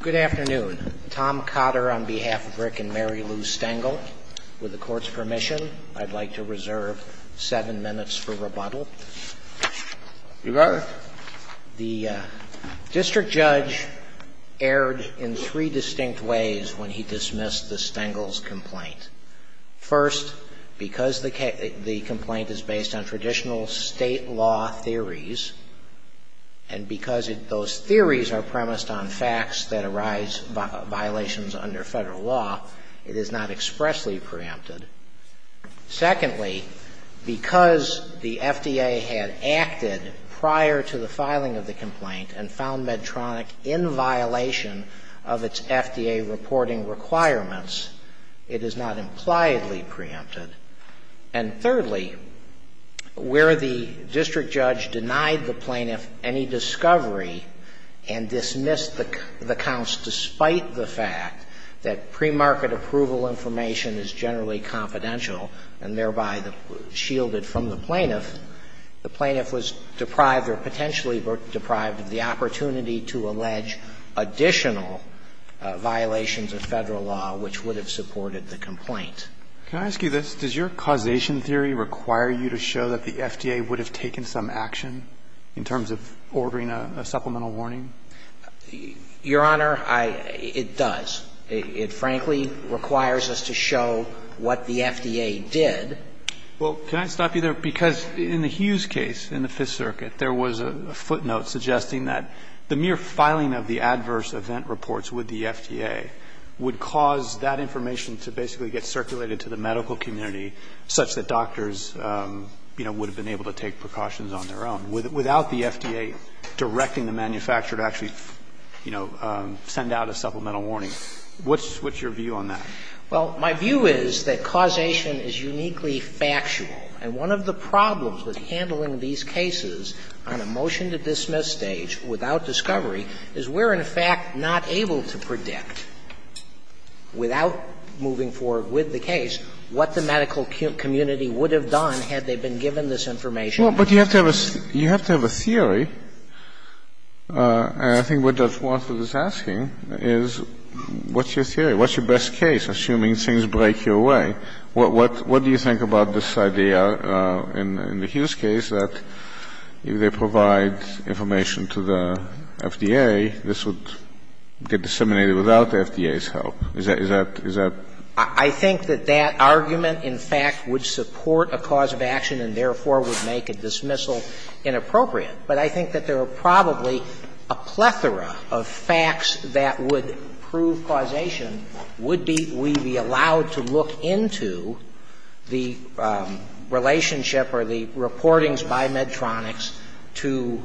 Good afternoon. Tom Cotter on behalf of Rick and Mary Lou Stengel. With the Court's permission, I'd like to reserve seven minutes for rebuttal. You got it. The District Judge erred in three distinct ways when he dismissed the Stengel's complaint. First, because the complaint is based on traditional State law theories, and because those theories are premised on facts that arise by violations under Federal law, it is not expressly preempted. Secondly, because the FDA had acted prior to the filing of the complaint and found Medtronic in violation of its FDA reporting requirements, it is not impliedly preempted. And thirdly, where the District Judge denied the plaintiff any discovery and dismissed the counts despite the fact that premarket approval information is generally confidential and thereby shielded from the plaintiff, the plaintiff was deprived or potentially deprived of the opportunity to allege additional violations of Federal law which would have supported the complaint. Can I ask you this? Does your causation theory require you to show that the FDA would have taken some action in terms of ordering a supplemental warning? Your Honor, I – it does. It frankly requires us to show what the FDA did. Well, can I stop you there? Because in the Hughes case in the Fifth Circuit, there was a footnote suggesting that the mere filing of the adverse event reports with the medical community, such that doctors, you know, would have been able to take precautions on their own, without the FDA directing the manufacturer to actually, you know, send out a supplemental warning. What's your view on that? Well, my view is that causation is uniquely factual, and one of the problems with handling these cases on a motion-to-dismiss stage without discovery is we're, in fact, not able to predict, without moving forward with the case, what the medical community would have done had they been given this information. Well, but you have to have a – you have to have a theory, and I think what Dr. Swanson is asking is what's your theory? What's your best case, assuming things break your way? What do you think about this idea in the Hughes case that if they provide information to the FDA, this would get disseminated without the FDA's help? Is that – is that – I think that that argument, in fact, would support a cause of action and, therefore, would make a dismissal inappropriate. But I think that there are probably a plethora of facts that would prove causation would be we be allowed to look into the relationship or the reportings by Medtronix to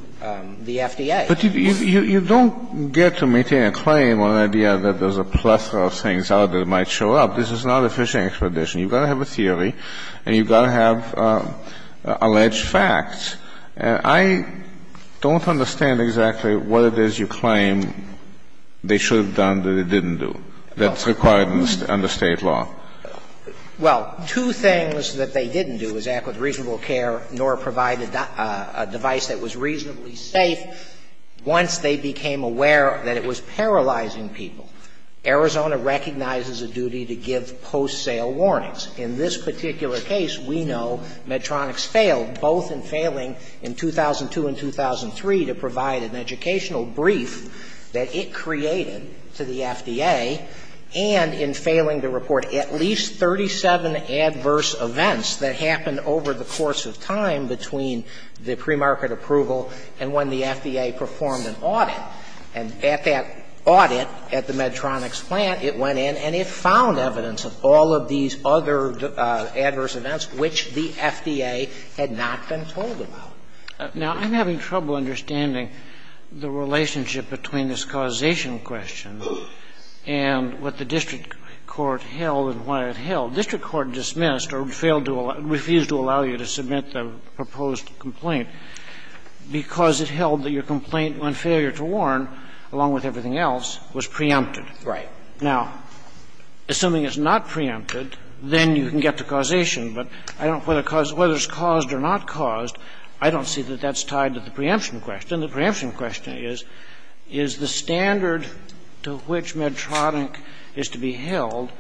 the FDA. But you don't get to maintain a claim on an idea that there's a plethora of things out there that might show up. This is not a fishing expedition. You've got to have a theory and you've got to have alleged facts. And I don't understand exactly what it is you claim they should have done that they didn't do that's required under State law. Well, two things that they didn't do is act with reasonable care, nor provide a device that was reasonably safe once they became aware that it was paralyzing people. Arizona recognizes a duty to give post-sale warnings. In this particular case, we know Medtronix failed, both in failing in 2002 and 2003 to provide an educational brief that it created to the FDA, and in failing to report at least 37 adverse events that happened over the course of time between the premarket approval and when the FDA performed an audit. And at that audit, at the Medtronix plant, it went in and it found evidence of all of these other adverse events which the FDA had not been told about. Now, I'm having trouble understanding the relationship between this causation question and what the district court held and why it held. District court dismissed or failed to allow or refused to allow you to submit the proposed complaint because it held that your complaint on failure to warn, along with everything else, was preempted. Right. Now, assuming it's not preempted, then you can get to causation. But I don't know whether it's caused or not caused. I don't see that that's tied to the preemption question. The preemption question is, is the standard to which Medtronix is to be held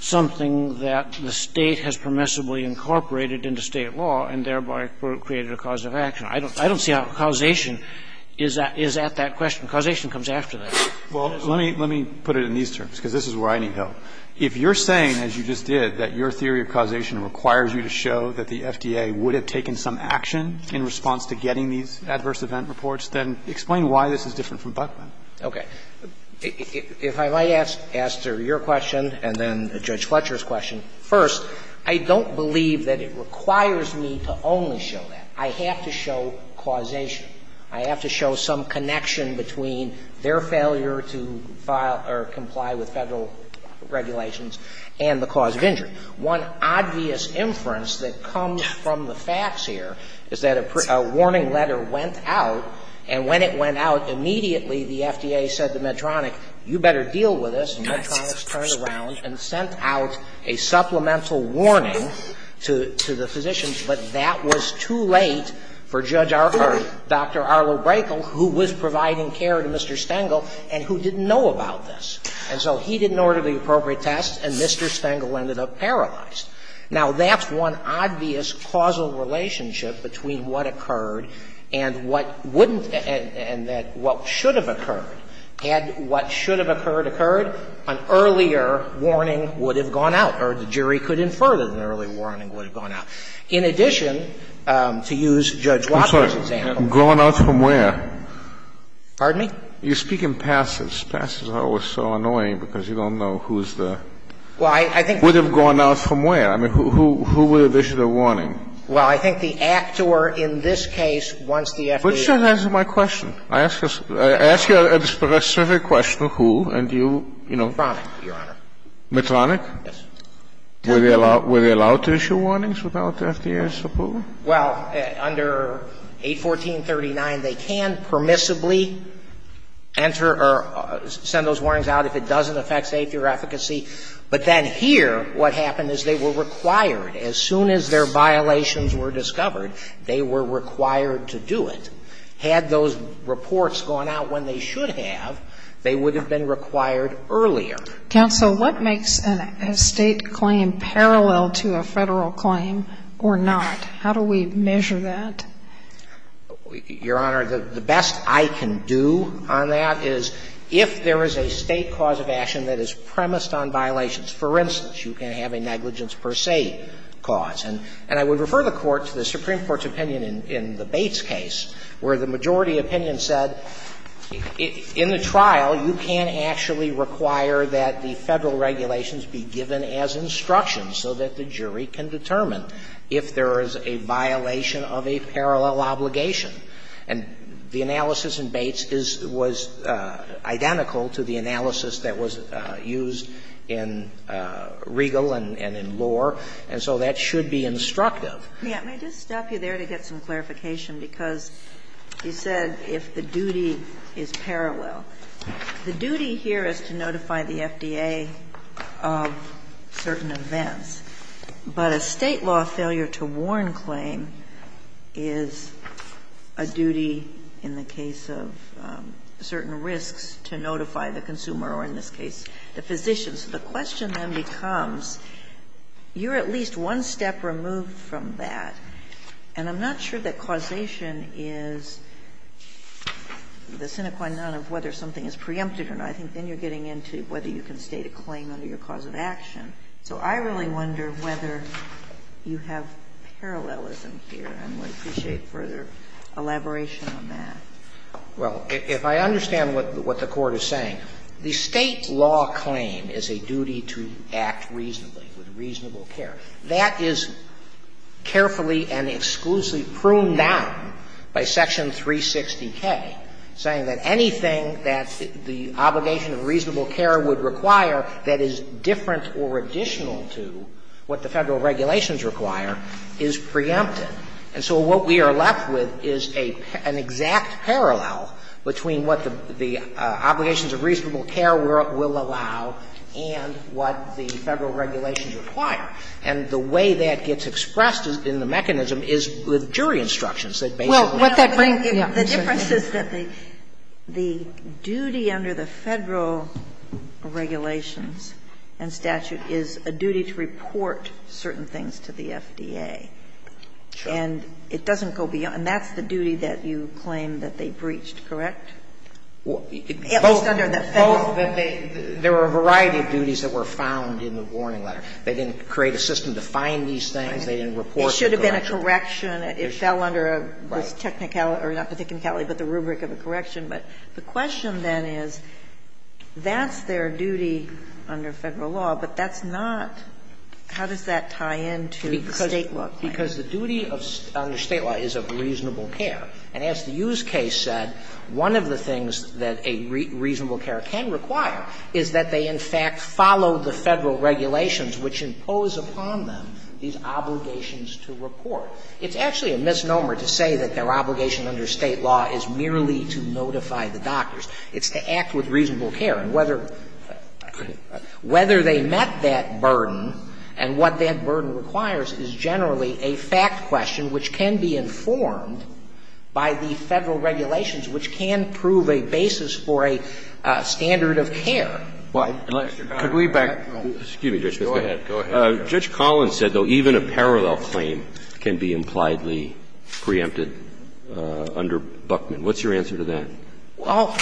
something that the State has permissibly incorporated into State law and thereby created a cause of action? I don't see how causation is at that question. Causation comes after that. Well, let me put it in these terms, because this is where I need help. If you're saying, as you just did, that your theory of causation requires you to show that the FDA would have taken some action in response to getting these adverse event reports, then explain why this is different from Buckman. Okay. If I might ask, Aster, your question and then Judge Fletcher's question. First, I don't believe that it requires me to only show that. I have to show causation. I have to show some connection between their failure to file or comply with Federal regulations and the cause of injury. One obvious inference that comes from the facts here is that a warning letter went out, and when it went out, immediately the FDA said to Medtronix, you better deal with this, and Medtronix turned around and sent out a supplemental warning to the physicians, but that was too late for Judge Arler, Dr. Arler Braekel, who was providing care to Mr. Stengel and who didn't know about this. And so he didn't order the appropriate test, and Mr. Stengel ended up paralyzed. Now, that's one obvious causal relationship between what occurred and what wouldn't and that what should have occurred. Had what should have occurred occurred, an earlier warning would have gone out, or the jury could infer that an early warning would have gone out. In addition, to use Judge Walker's example. Scalia. Going out from where? Pardon me? You're speaking passes. Passes are always so annoying because you don't know who's the – Well, I think – Would have gone out from where? I mean, who would have issued a warning? Well, I think the actor in this case, once the FDA – But it doesn't answer my question. I ask you a specific question, who, and you, you know – Medtronix, Your Honor. Medtronix? Yes. Were they allowed to issue warnings without the FDA's approval? Well, under 814.39, they can permissibly enter or send those warnings out if it doesn't affect safety or efficacy. But then here, what happened is they were required. As soon as their violations were discovered, they were required to do it. Had those reports gone out when they should have, they would have been required earlier. Counsel, what makes a State claim parallel to a Federal claim or not? How do we measure that? Your Honor, the best I can do on that is if there is a State cause of action that is premised on violations, for instance, you can have a negligence per se cause. And I would refer the Court to the Supreme Court's opinion in the Bates case, where the majority opinion said in the trial, you can't actually require that the Federal regulations be given as instructions so that the jury can determine if there is a State violation of a parallel obligation. And the analysis in Bates is was identical to the analysis that was used in Riegel and in Lohr, and so that should be instructive. May I just stop you there to get some clarification, because you said if the duty is parallel. The duty here is to notify the FDA of certain events, but a State law failure to warn claim is a duty in the case of certain risks to notify the consumer or in this case the physician. So the question then becomes, you're at least one step removed from that, and I'm not sure that causation is the sine qua non of whether something is preempted or not. I think then you're getting into whether you can State a claim under your cause of action. So I really wonder whether you have parallelism here, and I would appreciate further elaboration on that. Well, if I understand what the Court is saying, the State law claim is a duty to act reasonably, with reasonable care. That is carefully and exclusively pruned down by Section 360K, saying that anything that the obligation of reasonable care would require that is different or additional to what the Federal regulations require is preempted. And so what we are left with is a an exact parallel between what the obligations of reasonable care will allow and what the Federal regulations require. And the way that gets expressed in the mechanism is with jury instructions that basically say that. The difference is that the duty under the Federal regulations and statute is a duty to report certain things to the FDA. And it doesn't go beyond that. And that's the duty that you claim that they breached, correct? It was under the Federal. Both. There were a variety of duties that were found in the warning letter. They didn't create a system to find these things. They didn't report them to the Federal. It should have been a correction. It fell under a technicality, or not the technicality, but the rubric of a correction. But the question then is, that's their duty under Federal law, but that's not how does that tie into the State law claim? Because the duty under State law is of reasonable care. And as the Hughes case said, one of the things that a reasonable care can require is that they in fact follow the Federal regulations which impose upon them these obligations to report. It's actually a misnomer to say that their obligation under State law is merely to notify the doctors. It's to act with reasonable care. And whether they met that burden and what that burden requires is generally a fact question which can be informed by the Federal regulations, which can prove a basis for a standard of care. Could we back up? Excuse me, Judge Smith. Go ahead. Go ahead. Judge Collins said, though, even a parallel claim can be impliedly preempted under Buckman. What's your answer to that? Well,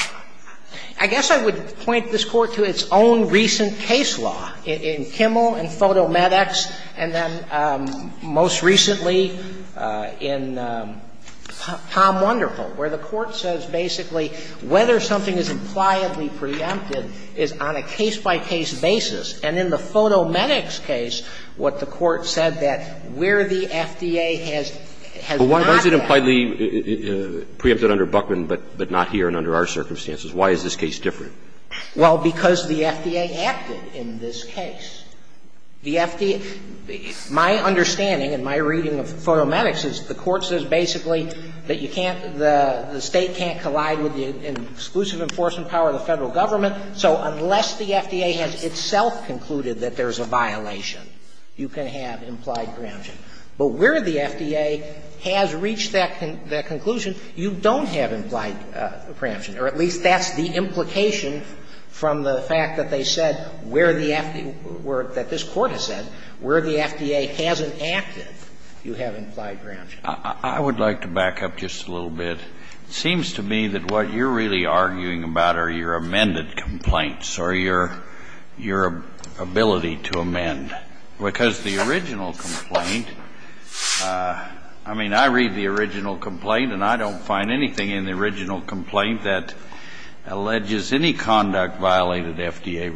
I guess I would point this Court to its own recent case law in Kimmel and Fotomedics, and then most recently in Tom Wonderful, where the Court says basically whether something is impliedly preempted is on a case-by-case basis, and in the Fotomedics case, what the Court said that where the FDA has not acted is on a case-by-case basis. But why is it impliedly preempted under Buckman, but not here and under our circumstances? Why is this case different? Well, because the FDA acted in this case. The FDA – my understanding and my reading of Fotomedics is the Court says basically that you can't – the State can't collide with the exclusive enforcement power of the Federal government. So unless the FDA has itself concluded that there's a violation, you can have implied preemption. But where the FDA has reached that conclusion, you don't have implied preemption, or at least that's the implication from the fact that they said where the – that this Court has said where the FDA hasn't acted, you have implied preemption. I would like to back up just a little bit. It seems to me that what you're really arguing about are your amended complaints or your ability to amend, because the original complaint – I mean, I read the original complaint, and I don't find anything in the original complaint that alleges any conduct violated FDA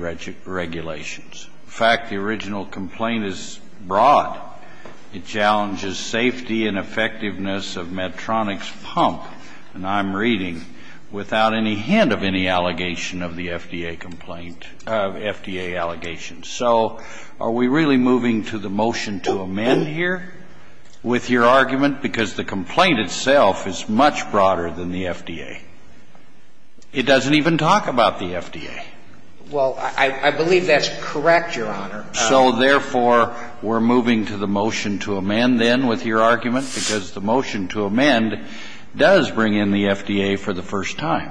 regulations. In fact, the original complaint is broad. It challenges safety and effectiveness of Medtronic's pump, and I'm reading, without any hint of any allegation of the FDA complaint – of FDA allegations. So are we really moving to the motion to amend here with your argument? Because the complaint itself is much broader than the FDA. It doesn't even talk about the FDA. Well, I believe that's correct, Your Honor. So, therefore, we're moving to the motion to amend then with your argument, because the motion to amend does bring in the FDA for the first time.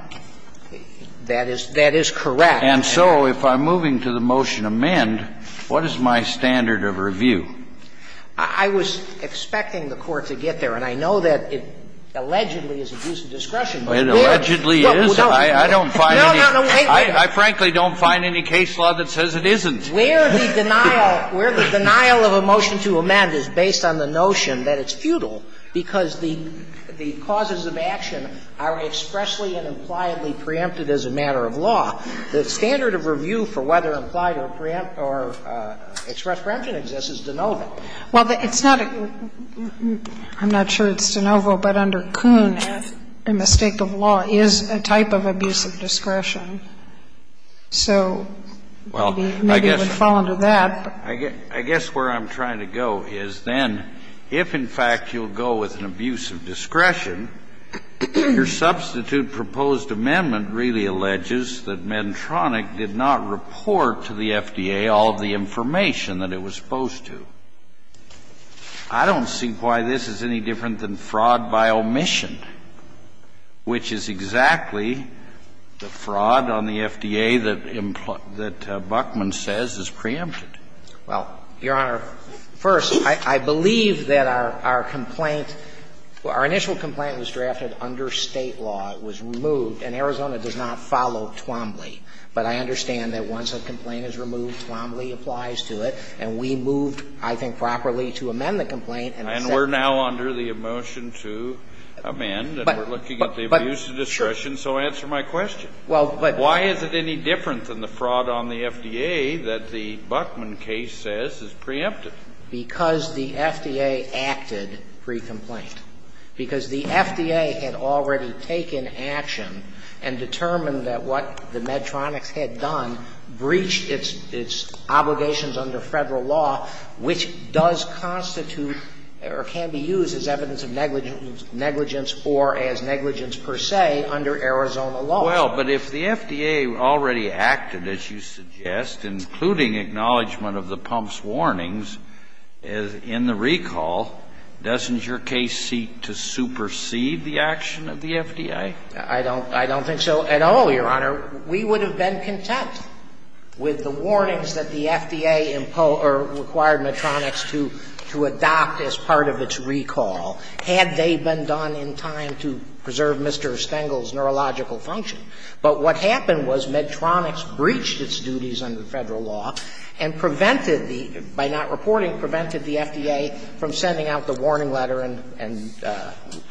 That is correct. And so if I'm moving to the motion to amend, what is my standard of review? I was expecting the Court to get there, and I know that it allegedly is abuse of discretion. It allegedly is. I don't find any – I frankly don't find any case law that says it isn't. Where the denial – where the denial of a motion to amend is based on the notion that it's futile because the causes of action are expressly and impliedly preempted as a matter of law, the standard of review for whether implied or preempt or expressed preemption exists is de novo. Well, it's not a – I'm not sure it's de novo, but under Kuhn, a mistake of law is a type of abuse of discretion. So maybe it would fall under that, but – Well, I guess – I guess where I'm trying to go is then if, in fact, you'll go with an abuse of discretion, your substitute proposed amendment really alleges that Medtronic did not report to the FDA all of the information that it was supposed to. I don't see why this is any different than fraud by omission, which is exactly the fraud on the FDA that Buckman says is preempted. Well, Your Honor, first, I believe that our complaint – our initial complaint was drafted under State law. It was removed, and Arizona does not follow Twombly. But I understand that once a complaint is removed, Twombly applies to it, and we moved, I think, properly to amend the complaint, and it said that – And we're now under the motion to amend, and we're looking at the abuse of discretion. So answer my question. Well, but – Why is it any different than the fraud on the FDA that the Buckman case says is preempted? Because the FDA acted pre-complaint. Because the FDA had already taken action and determined that what the Medtronics had done breached its obligations under Federal law, which does constitute or can be used as evidence of negligence or as negligence per se under Arizona law. Well, but if the FDA already acted, as you suggest, including acknowledgment of the pump's warnings in the recall, doesn't your case seek to supersede the action of the FDA? I don't – I don't think so at all, Your Honor. We would have been content with the warnings that the FDA required Medtronics to adopt as part of its recall had they been done in time to preserve Mr. Stengel's neurological function. But what happened was Medtronics breached its duties under Federal law and prevented the – by not reporting, prevented the FDA from sending out the warning letter and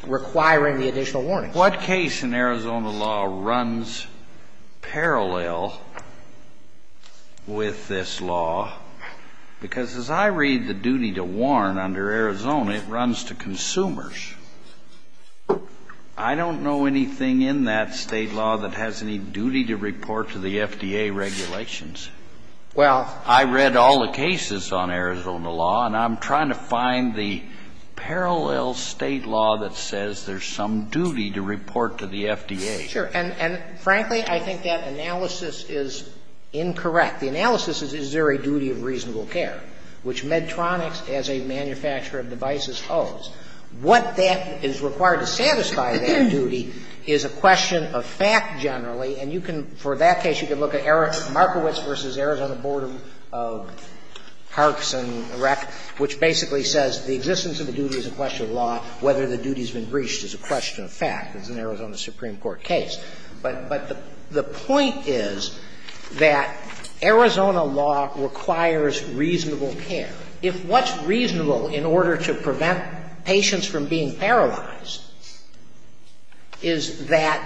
requiring the additional warnings. What case in Arizona law runs parallel with this law? Because as I read the duty to warn under Arizona, it runs to consumers. I don't know anything in that State law that has any duty to report to the FDA regulations. Well, I read all the cases on Arizona law, and I'm trying to find the parallel State law that says there's some duty to report to the FDA. Sure. And frankly, I think that analysis is incorrect. The analysis is, is there a duty of reasonable care, which Medtronics, as a manufacturer of devices, owes? What that is required to satisfy that duty is a question of fact, generally. And you can – for that case, you can look at Markowitz v. Arizona Board of Parks and Rec., which basically says the existence of the duty is a question of law, whether the duty's been breached is a question of fact. It's an Arizona Supreme Court case. But the point is that Arizona law requires reasonable care. If what's reasonable in order to prevent patients from being paralyzed is that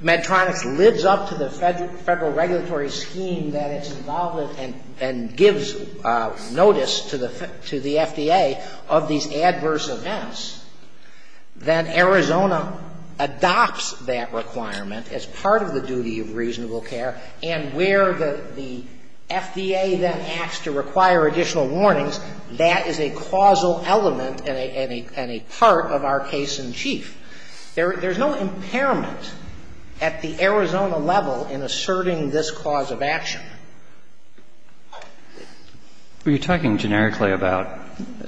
Medtronics lives up to the Federal regulatory scheme that it's involved in and gives notice to the FDA of these adverse events, then Arizona adopts that requirement as part of the duty of reasonable care. And where the FDA then acts to require additional warnings, that is a causal element and a part of our case in chief. There's no impairment at the Arizona level in asserting this cause of action. We're talking generically about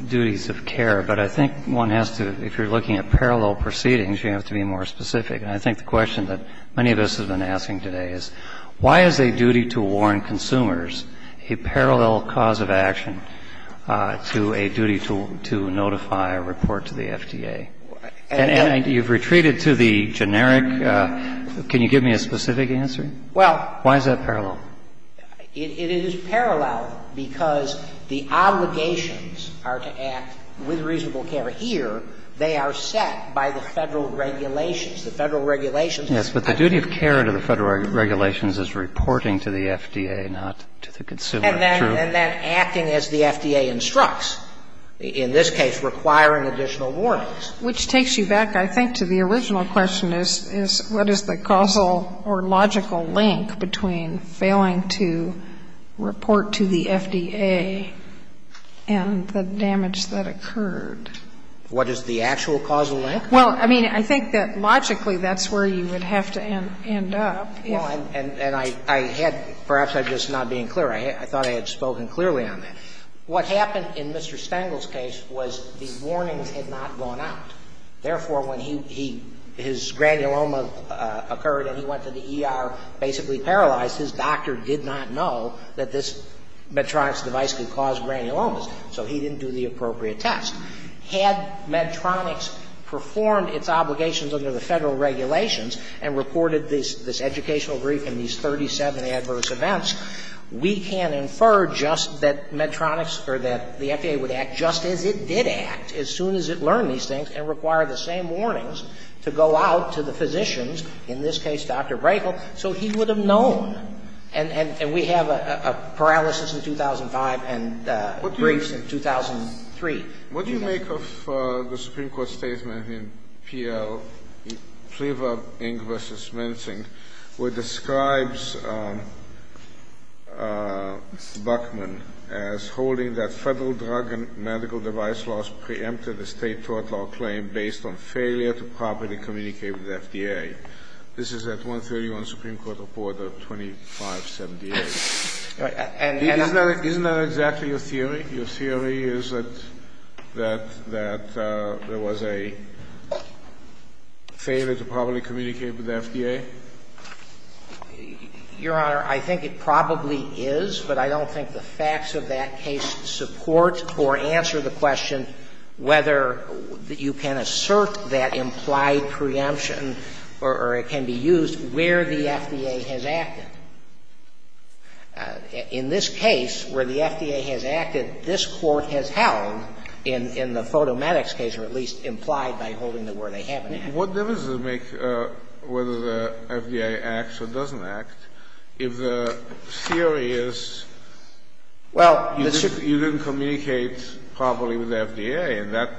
duties of care, but I think one has to, if you're looking at parallel proceedings, you have to be more specific. And I think the question that many of us have been asking today is, why is a duty to warn consumers a parallel cause of action to a duty to notify or report to the FDA? And you've retreated to the generic, can you give me a specific answer? Why is that parallel? It is parallel because the obligations are to act with reasonable care. But here, they are set by the Federal regulations. The Federal regulations... Yes. But the duty of care to the Federal regulations is reporting to the FDA, not to the consumer. True. And then acting as the FDA instructs. In this case, requiring additional warnings. Which takes you back, I think, to the original question is, what is the causal or logical link between failing to report to the FDA and the damage that occurred? What is the actual causal link? Well, I mean, I think that logically that's where you would have to end up. Well, and I had, perhaps I'm just not being clear. I thought I had spoken clearly on that. What happened in Mr. Stengel's case was the warnings had not gone out. Therefore, when he, his granuloma occurred and he went to the ER basically paralyzed, his doctor did not know that this Medtronic's device could cause granulomas, so he didn't do the appropriate test. Had Medtronic's performed its obligations under the Federal regulations and reported this educational brief and these 37 adverse events, we can infer just that Medtronic's or that the FDA would act just as it did act as soon as it learned these things and require the same warnings to go out to the physicians, in this case Dr. Brayhill, so he would have known. And we have a paralysis in 2005 and briefs in 2003. What do you make of the Supreme Court statement in PL, Priever, Ng v. Mincing, where it describes Buckman as holding that Federal drug and medical device laws preempted the state tort law claim based on failure to properly communicate with the FDA? This is at 131 Supreme Court Reporter 2578. And I'm not... Isn't that exactly your theory? Your theory is that there was a failure to properly communicate with the FDA? Your Honor, I think it probably is, but I don't think the facts of that case support or answer the question whether you can assert that implied preemption or it can be used where the FDA has acted. In this case, where the FDA has acted, this Court has held, in the Fotomedics case or at least implied by holding the word they haven't acted. What difference does it make whether the FDA acts or doesn't act if the theory is you didn't communicate properly with the FDA and that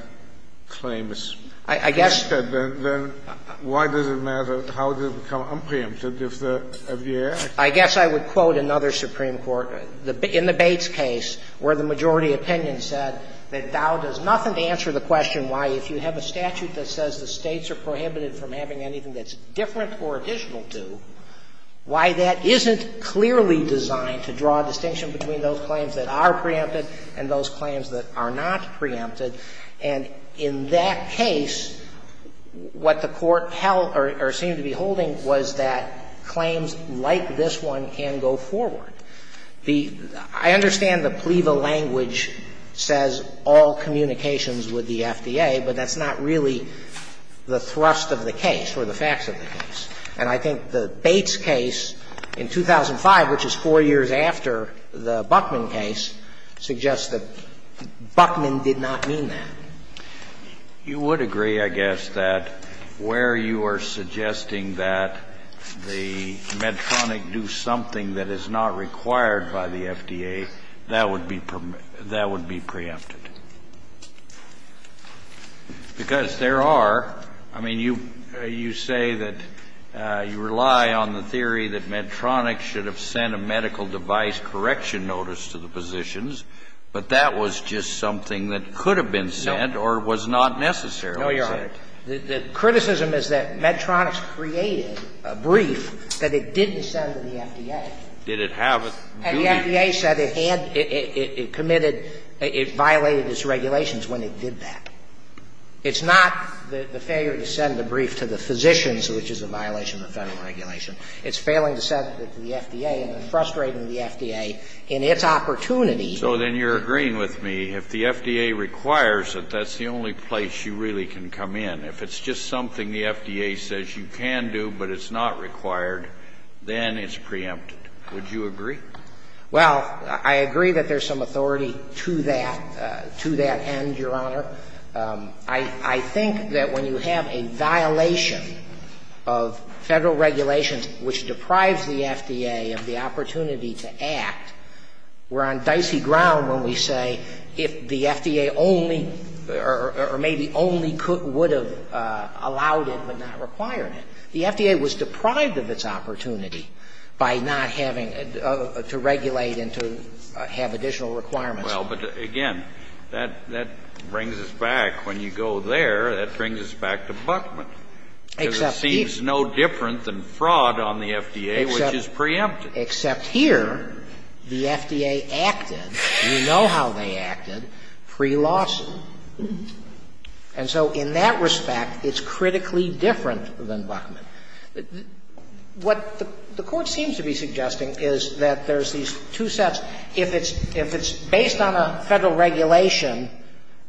claim is preempted, then why does it matter, how does it become unpreempted if the FDA has acted? I guess I would quote another Supreme Court, in the Bates case, where the majority opinion said that thou does nothing to answer the question why, if you have a statute that says the States are prohibited from having anything that's different or additional to, why that isn't clearly designed to draw a distinction between those claims that are preempted and those claims that are not preempted. And in that case, what the Court held or seemed to be holding was that claims like this one can go forward. The – I understand the PLEVA language says all communications with the FDA, but that's not really the thrust of the case or the facts of the case. And I think the Bates case in 2005, which is 4 years after the Buckman case, suggests that Buckman did not mean that. You would agree, I guess, that where you are suggesting that the Medtronic do something that is not required by the FDA, that would be preempted. Because there are – I mean, you say that you rely on the theory that Medtronic should have sent a medical device correction notice to the physicians, but that was just something that could have been sent or was not necessarily sent. No, Your Honor. The criticism is that Medtronic created a brief that it didn't send to the FDA. Did it have a duty? And the FDA said it had – it committed – it violated its regulations when it did that. It's not the failure to send a brief to the physicians, which is a violation of the Federal regulation. It's failing to send it to the FDA and then frustrating the FDA in its opportunity So then you're agreeing with me, if the FDA requires it, that's the only place you really can come in. If it's just something the FDA says you can do but it's not required, then it's preempted. Would you agree? Well, I agree that there's some authority to that, to that end, Your Honor. I think that when you have a violation of Federal regulations which deprives the FDA of the opportunity to act, we're on dicey ground when we say if the FDA only or maybe only could – would have allowed it but not required it. The FDA was deprived of its opportunity by not having to regulate and to have additional requirements. Well, but again, that brings us back. When you go there, that brings us back to Buckman. Except he's no different than fraud on the FDA, which is preempted. Except here, the FDA acted, we know how they acted, pre-lawsuit. And so in that respect, it's critically different than Buckman. What the Court seems to be suggesting is that there's these two sets. If it's based on a Federal regulation,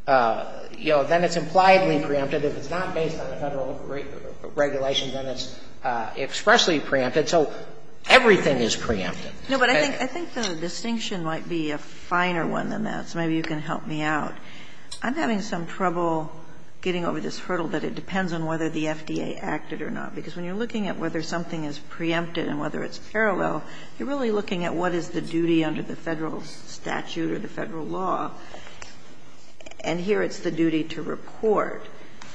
you know, then it's impliedly preempted. If it's not based on a Federal regulation, then it's expressly preempted. So everything is preempted. No, but I think the distinction might be a finer one than that, so maybe you can help me out. I'm having some trouble getting over this hurdle that it depends on whether the FDA acted or not, because when you're looking at whether something is preempted and whether it's parallel, you're really looking at what is the duty under the Federal statute or the Federal law, and here it's the duty to report.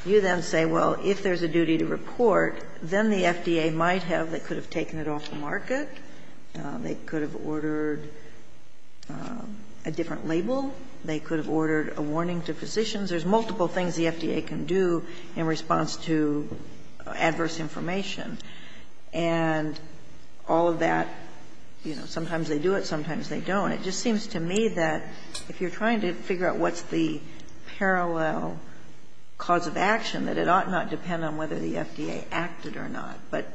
You then say, well, if there's a duty to report, then the FDA might have, they could have taken it off the market, they could have ordered a different label, they could have ordered a warning to physicians. There's multiple things the FDA can do in response to adverse information. And all of that, you know, sometimes they do it, sometimes they don't. It just seems to me that if you're trying to figure out what's the parallel cause of action, that it ought not depend on whether the FDA acted or not. But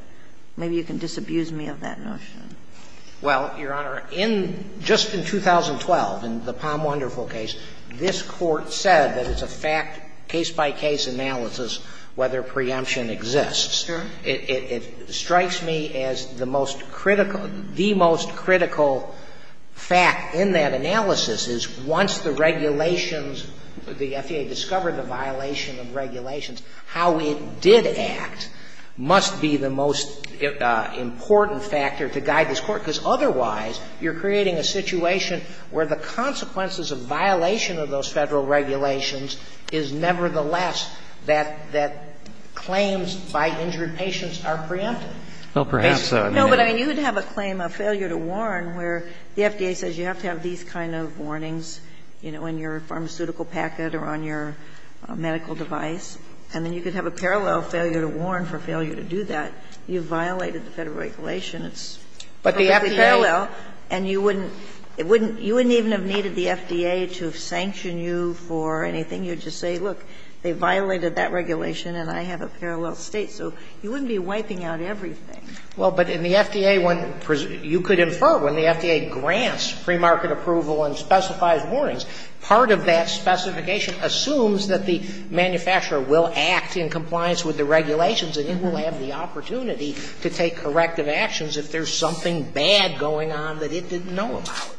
maybe you can disabuse me of that notion. Dreeben, Jr. Well, Your Honor, in just in 2012, in the Palm Wonderful case, this Court said that it's a fact, case-by-case analysis, whether preemption exists. It strikes me as the most critical, the most critical fact in that analysis is once the regulations, the FDA discovered the violation of regulations, how it did act must be the most important factor to guide this Court, because otherwise, you're creating a situation where the consequences of violation of those Federal regulations is nevertheless that claims by injured patients are preempted. Well, perhaps so. No, but, I mean, you would have a claim, a failure to warn, where the FDA says you have to have these kind of warnings, you know, in your pharmaceutical packet or on your medical device, and then you could have a parallel failure to warn for failure to do that. You violated the Federal regulation. It's perfectly parallel, and you wouldn't, it wouldn't, you wouldn't even have needed the FDA to sanction you for anything. You would just say, look, they violated that regulation and I have a parallel State. So you wouldn't be wiping out everything. Well, but in the FDA, when you could infer, when the FDA grants premarket approval and specifies warnings, part of that specification assumes that the manufacturer will act in compliance with the regulations and it will have the opportunity to take corrective actions if there's something bad going on that it didn't know about.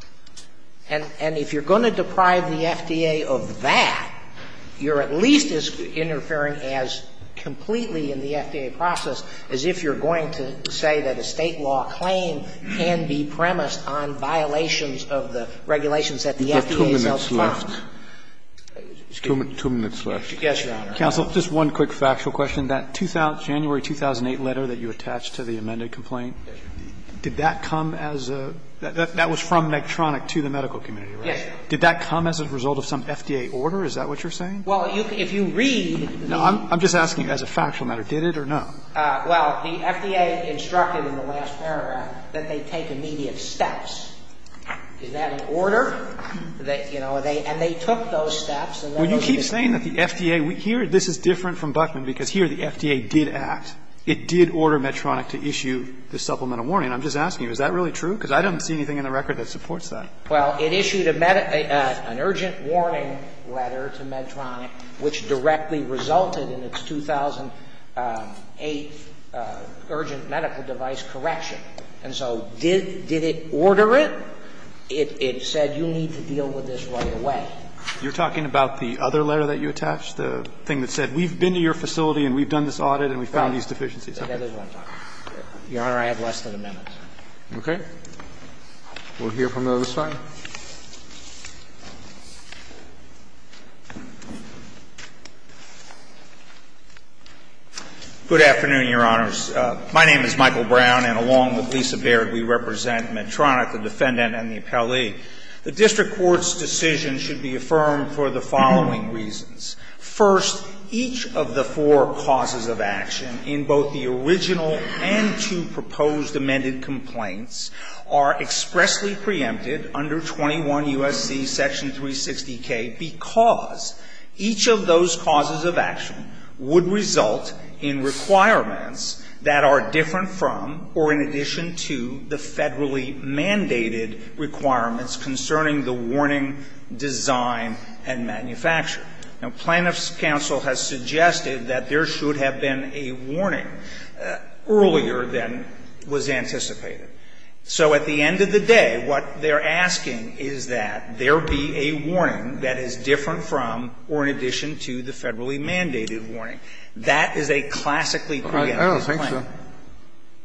And if you're going to deprive the FDA of that, you're at least as interfering as completely in the FDA process as if you're going to say that a State law claim can be premised on violations of the regulations that the FDA itself found. Scalia. Two minutes left. Yes, Your Honor. Counsel, just one quick factual question. That January 2008 letter that you attached to the amended complaint, did that come as a – that was from Medtronic to the medical community, right? Yes. Did that come as a result of some FDA order? Is that what you're saying? Well, if you read the – I'm just asking as a factual matter. Did it or no? Well, the FDA instructed in the last paragraph that they take immediate steps. Is that an order? That, you know, they – and they took those steps, and then they were able to act. Well, you keep saying that the FDA – here, this is different from Buckman, because here the FDA did act. It did order Medtronic to issue the supplemental warning. And I'm just asking you, is that really true? Because I don't see anything in the record that supports that. Well, it issued a – an urgent warning letter to Medtronic which directly resulted in its 2008 urgent medical device correction. And so did it order it? It said you need to deal with this right away. You're talking about the other letter that you attached, the thing that said, we've been to your facility and we've done this audit and we found these deficiencies? That is what I'm talking about. Your Honor, I have less than a minute. Okay. We'll hear from the other side. Thank you, Your Honor. Good afternoon, Your Honors. My name is Michael Brown, and along with Lisa Baird, we represent Medtronic, the defendant and the appellee. The district court's decision should be affirmed for the following reasons. First, each of the four causes of action in both the original and two proposed amended complaints are expressly preempted under 21 U.S.C. Section 360K because each of those causes of action would result in requirements that are different from or in addition to the Federally mandated requirements concerning the warning design and manufacture. Now, Plaintiff's counsel has suggested that there should have been a warning earlier than was anticipated. So at the end of the day, what they're asking is that there be a warning that is different from or in addition to the Federally mandated warning. That is a classically preempted claim. I don't think so.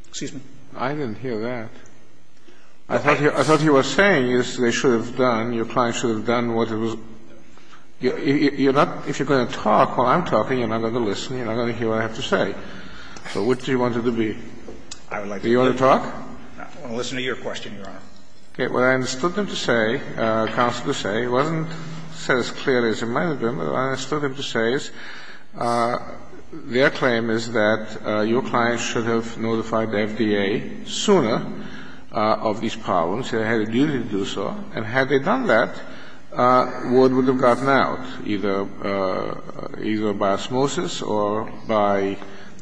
Excuse me. I didn't hear that. I thought you were saying they should have done, your client should have done what it was you're not, if you're going to talk while I'm talking, you're not going to listen, you're not going to hear what I have to say. So which do you want it to be? Do you want to talk? I want to listen to your question, Your Honor. What I understood them to say, counsel to say, it wasn't said as clearly as it might have been, but what I understood them to say is their claim is that your client should have notified the FDA sooner of these problems, that they had a duty to do so, and had they done that, word would have gotten out, either by osmosis or by, you know,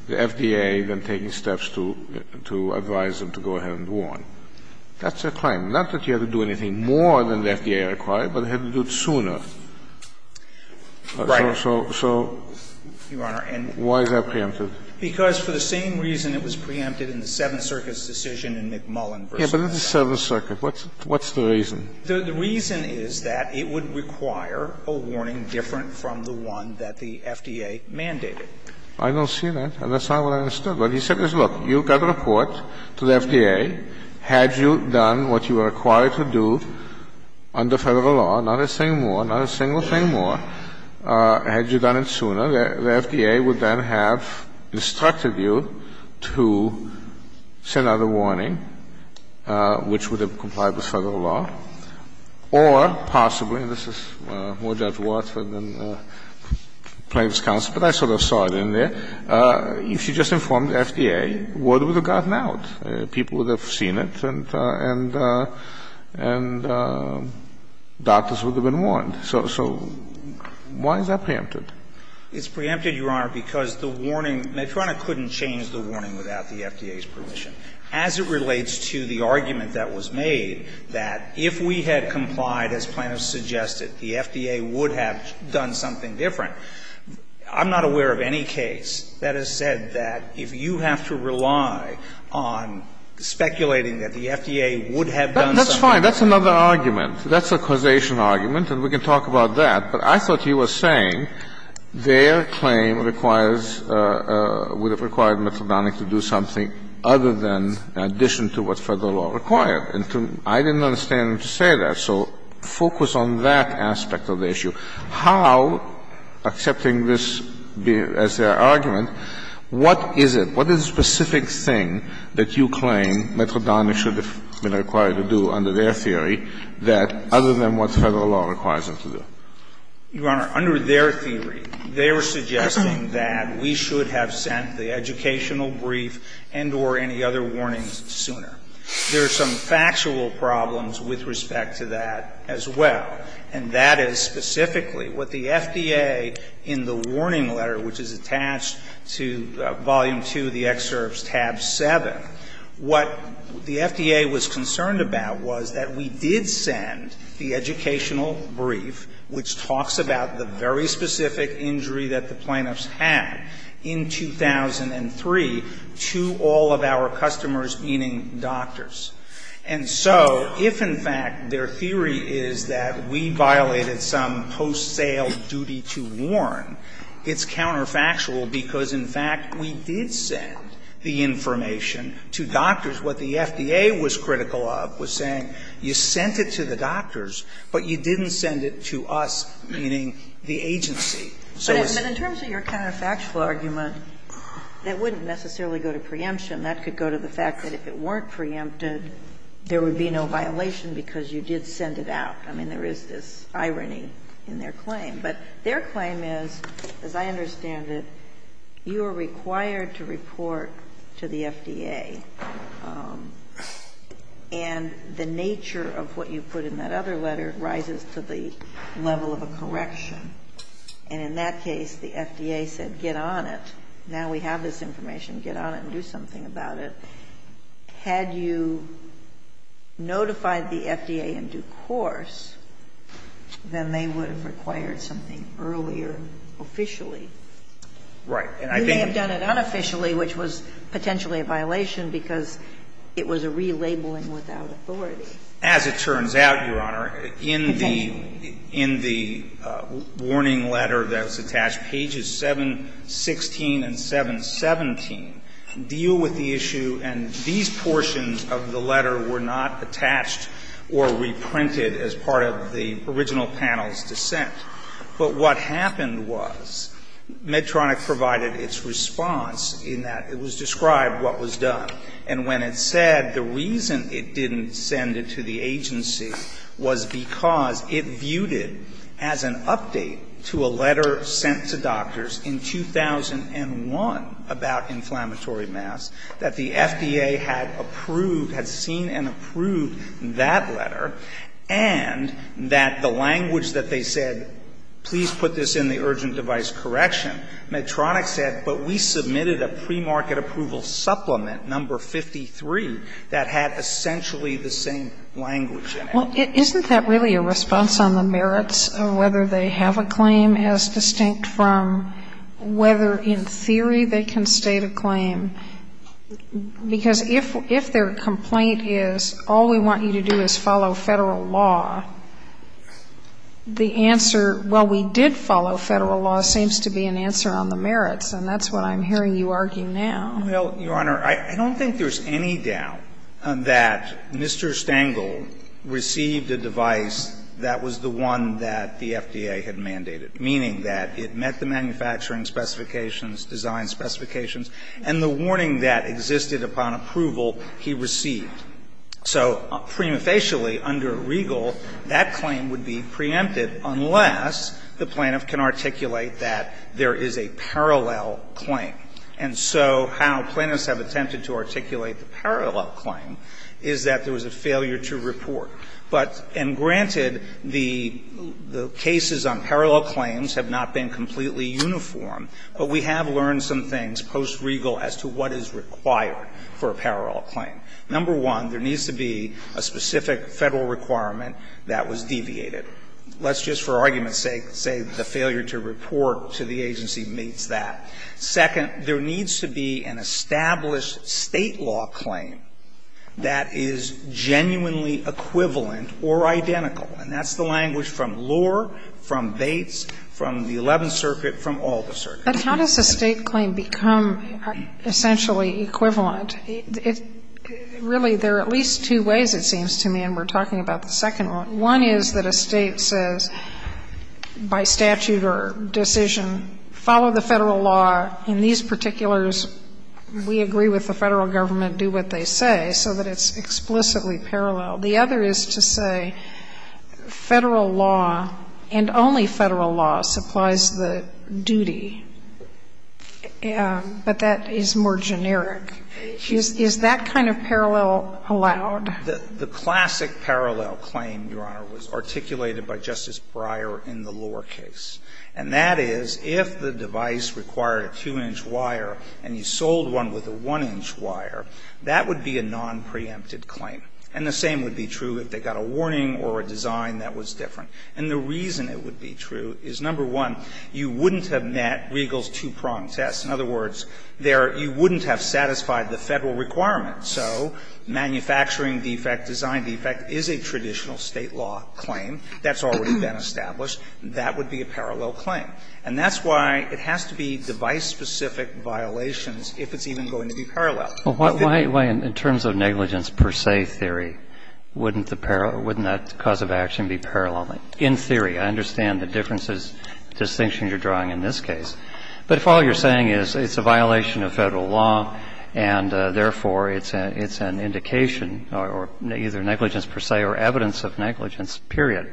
the FDA then taking steps to advise them to go ahead and warn. That's their claim. Not that you have to do anything more than the FDA required, but they had to do it sooner. So why is that preempted? Because for the same reason it was preempted in the Seventh Circuit's decision in McMullin v. Medina. Yes, but in the Seventh Circuit, what's the reason? The reason is that it would require a warning different from the one that the FDA mandated. I don't see that. And that's not what I understood. What he said is, look, you've got a report to the FDA, had you done what you were required to do under Federal law, not a single thing more, had you done it sooner, the FDA would then have instructed you to send out a warning, which would have complied with Federal law, or possibly, and this is more Judge Watt than plaintiff's part in there, if you just informed the FDA, word would have gotten out. People would have seen it and doctors would have been warned. So why is that preempted? It's preempted, Your Honor, because the warning – Medtronic couldn't change the warning without the FDA's permission. As it relates to the argument that was made that if we had complied, as plaintiffs suggested, the FDA would have done something different, I'm not aware of any case that has said that if you have to rely on speculating that the FDA would have done something different. But that's fine. That's another argument. That's a causation argument, and we can talk about that. But I thought he was saying their claim requires – would have required Medtronic to do something other than in addition to what Federal law required. And I didn't understand him to say that. So focus on that aspect of the issue. How, accepting this as their argument, what is it? What is the specific thing that you claim Medtronic should have been required to do under their theory that – other than what Federal law requires them to do? Your Honor, under their theory, they were suggesting that we should have sent the educational brief and or any other warnings sooner. There are some factual problems with respect to that as well, and that is specifically what the FDA in the warning letter, which is attached to volume 2 of the excerpts tab 7, what the FDA was concerned about was that we did send the educational brief, which talks about the very specific injury that the plaintiffs had in 2003 to all of our customers, meaning doctors. And so if, in fact, their theory is that we violated some post-sale duty to warn, it's counterfactual because, in fact, we did send the information to doctors. What the FDA was critical of was saying you sent it to the doctors, but you didn't send it to us, meaning the agency. So it's – It's a counterfactual argument that wouldn't necessarily go to preemption. That could go to the fact that if it weren't preempted, there would be no violation because you did send it out. I mean, there is this irony in their claim. But their claim is, as I understand it, you are required to report to the FDA, and the nature of what you put in that other letter rises to the level of a correction. And in that case, the FDA said, get on it. Now we have this information. Get on it and do something about it. Had you notified the FDA in due course, then they would have required something earlier, officially. Right. And I think we may have done it unofficially, which was potentially a violation because it was a relabeling without authority. As it turns out, Your Honor, in the – Potentially. The warning letter that was attached, pages 716 and 717, deal with the issue. And these portions of the letter were not attached or reprinted as part of the original panel's dissent. But what happened was Medtronic provided its response in that it was described what was done. And when it said the reason it didn't send it to the agency was because it viewed it as an update to a letter sent to doctors in 2001 about inflammatory masks, that the FDA had approved, had seen and approved that letter, and that the language that they said, please put this in the urgent device correction, Medtronic said, but we submitted a premarket approval supplement, number 53, that had essentially the same language in it. Well, isn't that really a response on the merits of whether they have a claim as distinct from whether, in theory, they can state a claim? Because if their complaint is all we want you to do is follow Federal law, the answer well, we did follow Federal law seems to be an answer on the merits, and that's what I'm hearing you argue now. Well, Your Honor, I don't think there's any doubt that Mr. Stengel received a device that was the one that the FDA had mandated, meaning that it met the manufacturing specifications, design specifications, and the warning that existed upon approval he received. So prima facie, under Regal, that claim would be preempted unless the plaintiff can articulate that there is a parallel claim. And so how plaintiffs have attempted to articulate the parallel claim is that there was a failure to report. But, and granted, the cases on parallel claims have not been completely uniform, but we have learned some things post-Regal as to what is required for a parallel claim. Number one, there needs to be a specific Federal requirement that was deviated. Let's just, for argument's sake, say the failure to report to the agency meets that. Second, there needs to be an established State law claim that is genuinely equivalent or identical, and that's the language from Lohr, from Bates, from the Eleventh Circuit, from all the circuits. But how does a State claim become essentially equivalent? It's really, there are at least two ways, it seems to me, and we're talking about the second one. One is that a State says, by statute or decision, follow the Federal law, and these particulars, we agree with the Federal government, do what they say, so that it's explicitly parallel. The other is to say Federal law, and only Federal law, supplies the duty. But that is more generic. Is that kind of parallel allowed? The classic parallel claim, Your Honor, was articulated by Justice Breyer in the Lohr case, and that is, if the device required a 2-inch wire and you sold one with a 1-inch wire, that would be a nonpreempted claim. And the same would be true if they got a warning or a design that was different. And the reason it would be true is, number one, you wouldn't have met Riegel's two-prong test. In other words, there you wouldn't have satisfied the Federal requirement. So manufacturing defect, design defect, is a traditional State law claim that's already been established. That would be a parallel claim. And that's why it has to be device-specific violations if it's even going to be parallel. But then you would have to be parallel. But why, in terms of negligence per se theory, wouldn't that cause of action be parallel? In theory, I understand the differences, distinctions you're drawing in this case. But if all you're saying is it's a violation of Federal law and, therefore, it's an indication or either negligence per se or evidence of negligence, period,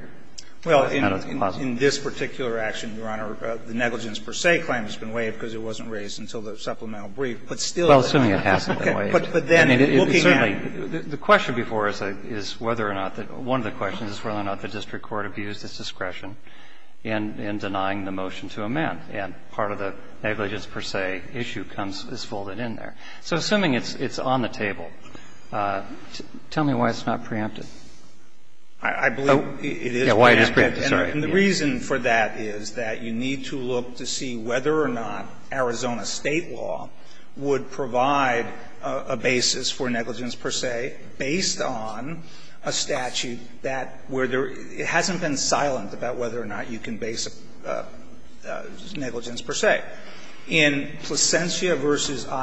then it's plausible. Well, in this particular action, Your Honor, the negligence per se claim has been waived because it wasn't raised until the supplemental brief. But still it's a claim. Well, assuming it hasn't been waived. But then, looking at it. The question before us is whether or not the one of the questions is whether or not the district court abused its discretion in denying the motion to amend. And part of the negligence per se issue comes as folded in there. So assuming it's on the table, tell me why it's not preempted. I believe it is preempted. And the reason for that is that you need to look to see whether or not Arizona State law would provide a basis for negligence per se based on a statute that where there hasn't been silence about whether or not you can base negligence per se. And I believe that in Placencia v.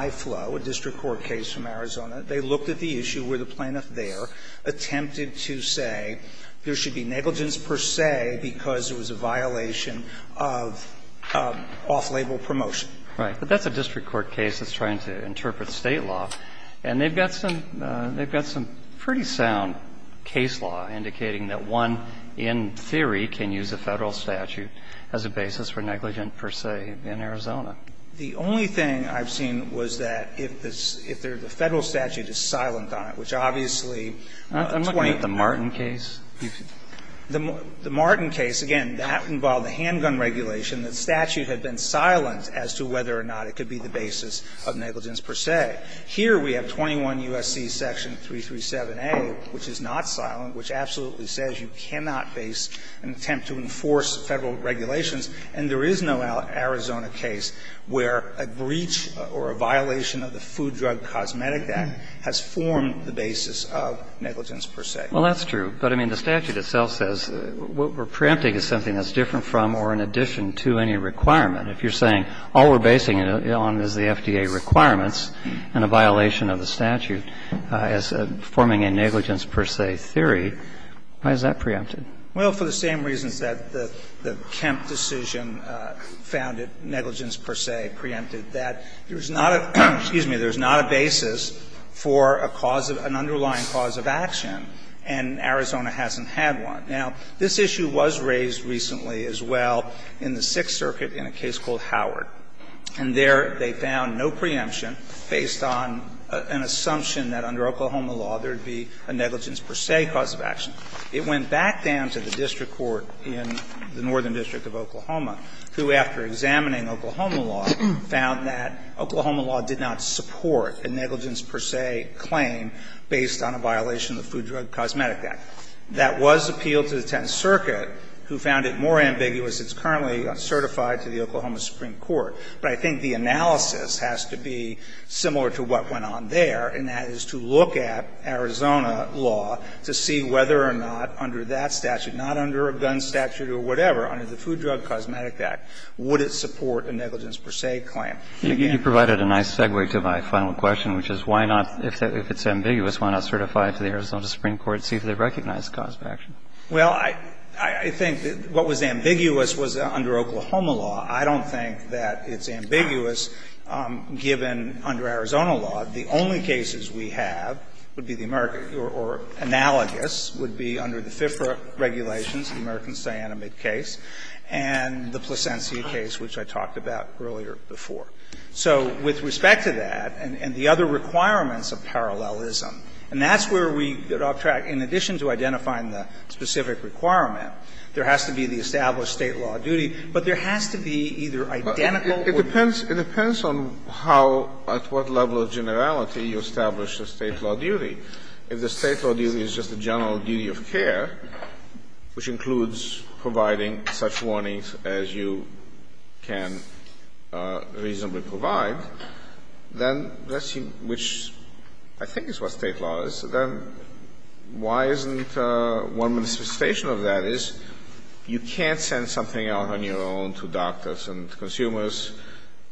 Iflow, a district court case from Arizona, they looked at the issue where the plaintiff there attempted to say there should be negligence per se because it was a violation of off-label promotion. Right. But that's a district court case that's trying to interpret State law. And they've got some pretty sound case law indicating that one, in theory, can use a Federal statute as a basis for negligence per se in Arizona. The only thing I've seen was that if the Federal statute is silent on it, which obviously the plaintiff can't. I'm looking at the Martin case. The Martin case, again, that involved the handgun regulation. The statute had been silent as to whether or not it could be the basis of negligence per se. Here we have 21 U.S.C. section 337a, which is not silent, which absolutely says you cannot base an attempt to enforce Federal regulations. And there is no Arizona case where a breach or a violation of the Food Drug Cosmetic Act has formed the basis of negligence per se. Well, that's true. But, I mean, the statute itself says what we're preempting is something that's different from or in addition to any requirement. If you're saying all we're basing it on is the FDA requirements and a violation of the statute as forming a negligence per se theory, why is that preempted? Well, for the same reasons that the Kemp decision found it negligence per se preempted, that there's not a basis for a cause of an underlying cause of action, and Arizona hasn't had one. Now, this issue was raised recently as well in the Sixth Circuit in a case called Howard. And there they found no preemption based on an assumption that under Oklahoma law there would be a negligence per se cause of action. It went back down to the district court in the Northern District of Oklahoma, who, after examining Oklahoma law, found that Oklahoma law did not support a negligence per se claim based on a violation of the Food Drug Cosmetic Act. That was appealed to the Tenth Circuit, who found it more ambiguous. It's currently certified to the Oklahoma Supreme Court. But I think the analysis has to be similar to what went on there, and that is to look at Arizona law to see whether or not under that statute, not under a gun statute or whatever, under the Food Drug Cosmetic Act, would it support a negligence per se claim. You provided a nice segue to my final question, which is why not, if it's ambiguous, why not certify it to the Arizona Supreme Court and see if they recognize a cause of action? Well, I think that what was ambiguous was under Oklahoma law. I don't think that it's ambiguous given under Arizona law. The only cases we have would be the American or analogous would be under the FIFRA regulations, the American cyanamide case, and the Plasencia case, which I talked about earlier before. So with respect to that and the other requirements of parallelism, and that's where we get off track, in addition to identifying the specific requirement, there has to be the established State law duty, but there has to be either identical or no. It depends on how, at what level of generality, you establish a State law duty. If the State law duty is just a general duty of care, which includes providing such warnings as you can reasonably provide, then that's, which I think is what State law is. Then why isn't one manifestation of that is you can't send something out on your own to doctors and consumers,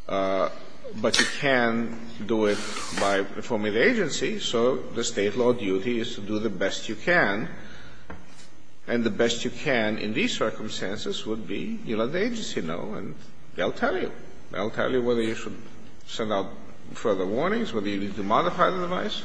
but you can do it by informing the agency. So the State law duty is to do the best you can, and the best you can in these circumstances would be you let the agency know, and they'll tell you. They'll tell you whether you should send out further warnings, whether you need to modify the device.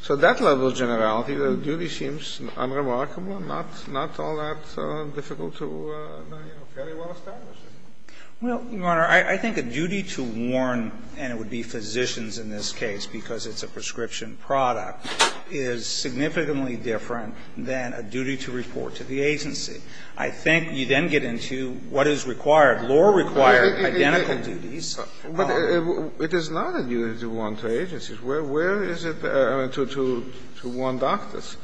So at that level of generality, the duty seems unremarkable, not all that difficult to, you know, fairly well establish it. Well, Your Honor, I think a duty to warn, and it would be physicians in this case because it's a prescription product, is significantly different than a duty to report to the agency. I think you then get into what is required. Law requires identical duties. But it is not a duty to warn to agencies. Where is it to warn doctors?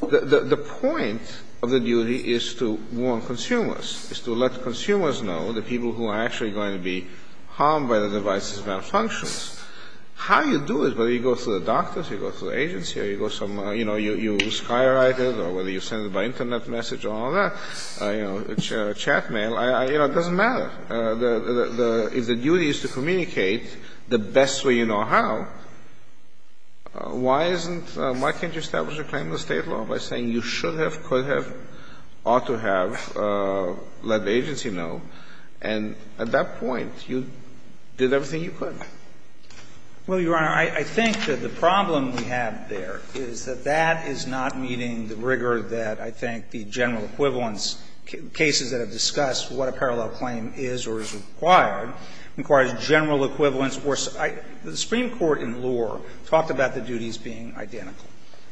The point of the duty is to warn consumers, is to let consumers know the people who are actually going to be harmed by the device's malfunctions. How you do it, whether you go to the doctors, you go to the agency, or you go somewhere you know, you sky write it or whether you send it by Internet message or all that, you know, a chat mail, you know, it doesn't matter. If the duty is to communicate the best way you know how, why isn't why can't you establish a claim in the State law by saying you should have, could have, ought to have let the agency know, and at that point you did everything you could? Well, Your Honor, I think that the problem we have there is that that is not meeting the rigor that I think the general equivalence cases that have discussed what a parallel claim is or is required, requires general equivalence. The Supreme Court in Lohr talked about the duties being identical.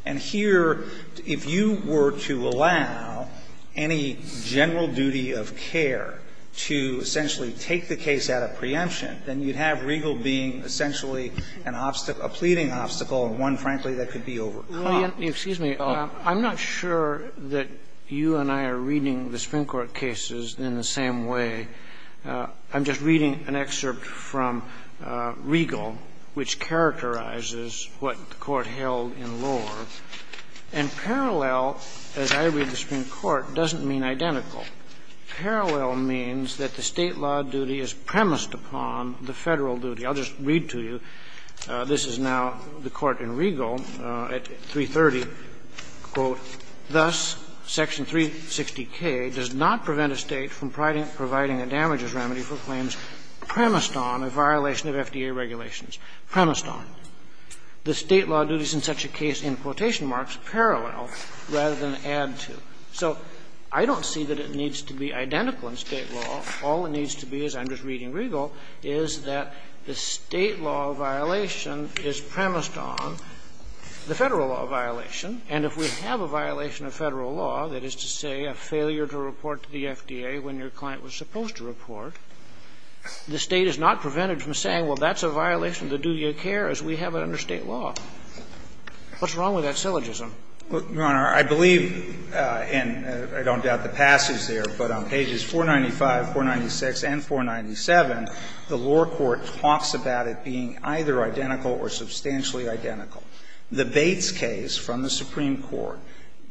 And here, if you were to allow any general duty of care to essentially take the case at a preemption, then you'd have Regal being essentially an obstacle, a pleading obstacle, and one, frankly, that could be overcome. Excuse me. I'm not sure that you and I are reading the Supreme Court cases in the same way. I'm just reading an excerpt from Regal which characterizes what the Court held in Lohr, and parallel, as I read the Supreme Court, doesn't mean identical. Parallel means that the State law duty is premised upon the Federal duty. I'll just read to you. This is now the Court in Regal at 330, quote, Thus, Section 360K does not prevent a State from providing a damages remedy for claims premised on a violation of FDA regulations. Premised on. The State law duty is in such a case, in quotation marks, parallel, rather than add to. So I don't see that it needs to be identical in State law. All it needs to be is, I'm just reading Regal, is that the State law violation is premised on the Federal law violation, and if we have a violation of Federal law, that is to say a failure to report to the FDA when your client was supposed to report, the State is not prevented from saying, well, that's a violation of the duty of care as we have it under State law. What's wrong with that syllogism? Well, Your Honor, I believe, and I don't doubt the passage there, but on pages 495, 496, and 497, the lower court talks about it being either identical or substantially identical. The Bates case from the Supreme Court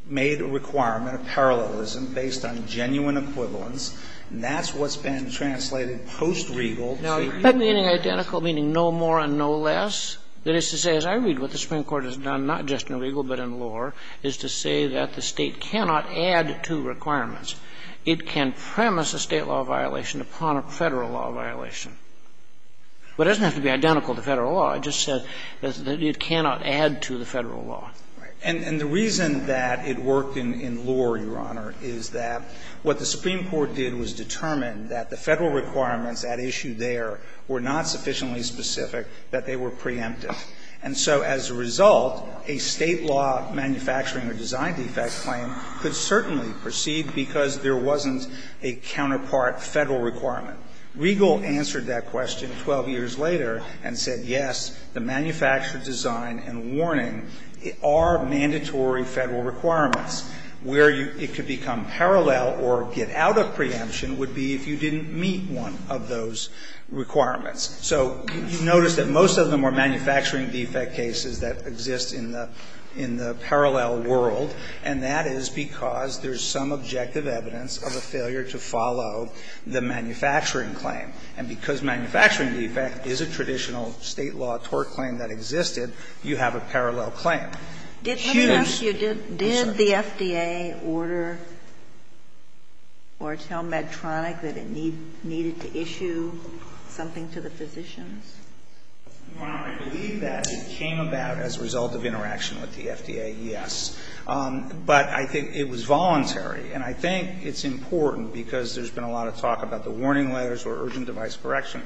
made a requirement of parallelism based on genuine equivalence, and that's what's been translated post-Regal to the State law. Now, that meaning identical, meaning no more and no less, that is to say, as I read it, what the Supreme Court has done, not just in Regal, but in Lohr, is to say that the State cannot add to requirements. It can premise a State law violation upon a Federal law violation, but it doesn't have to be identical to Federal law. It just says that it cannot add to the Federal law. Right. And the reason that it worked in Lohr, Your Honor, is that what the Supreme Court did was determine that the Federal requirements at issue there were not sufficiently specific, that they were preemptive. And so as a result, a State law manufacturing or design defect claim could certainly proceed because there wasn't a counterpart Federal requirement. Regal answered that question 12 years later and said, yes, the manufactured design and warning are mandatory Federal requirements. Where it could become parallel or get out of preemption would be if you didn't meet one of those requirements. So you notice that most of them were manufacturing defect cases that exist in the parallel world, and that is because there is some objective evidence of a failure to follow the manufacturing claim. And because manufacturing defect is a traditional State law tort claim that existed, you have a parallel claim. Huge. Sotomayor, did the FDA order or tell Medtronic that it needed to issue something to the physicians? I believe that it came about as a result of interaction with the FDA, yes. But I think it was voluntary. And I think it's important because there's been a lot of talk about the warning letters or urgent device correction.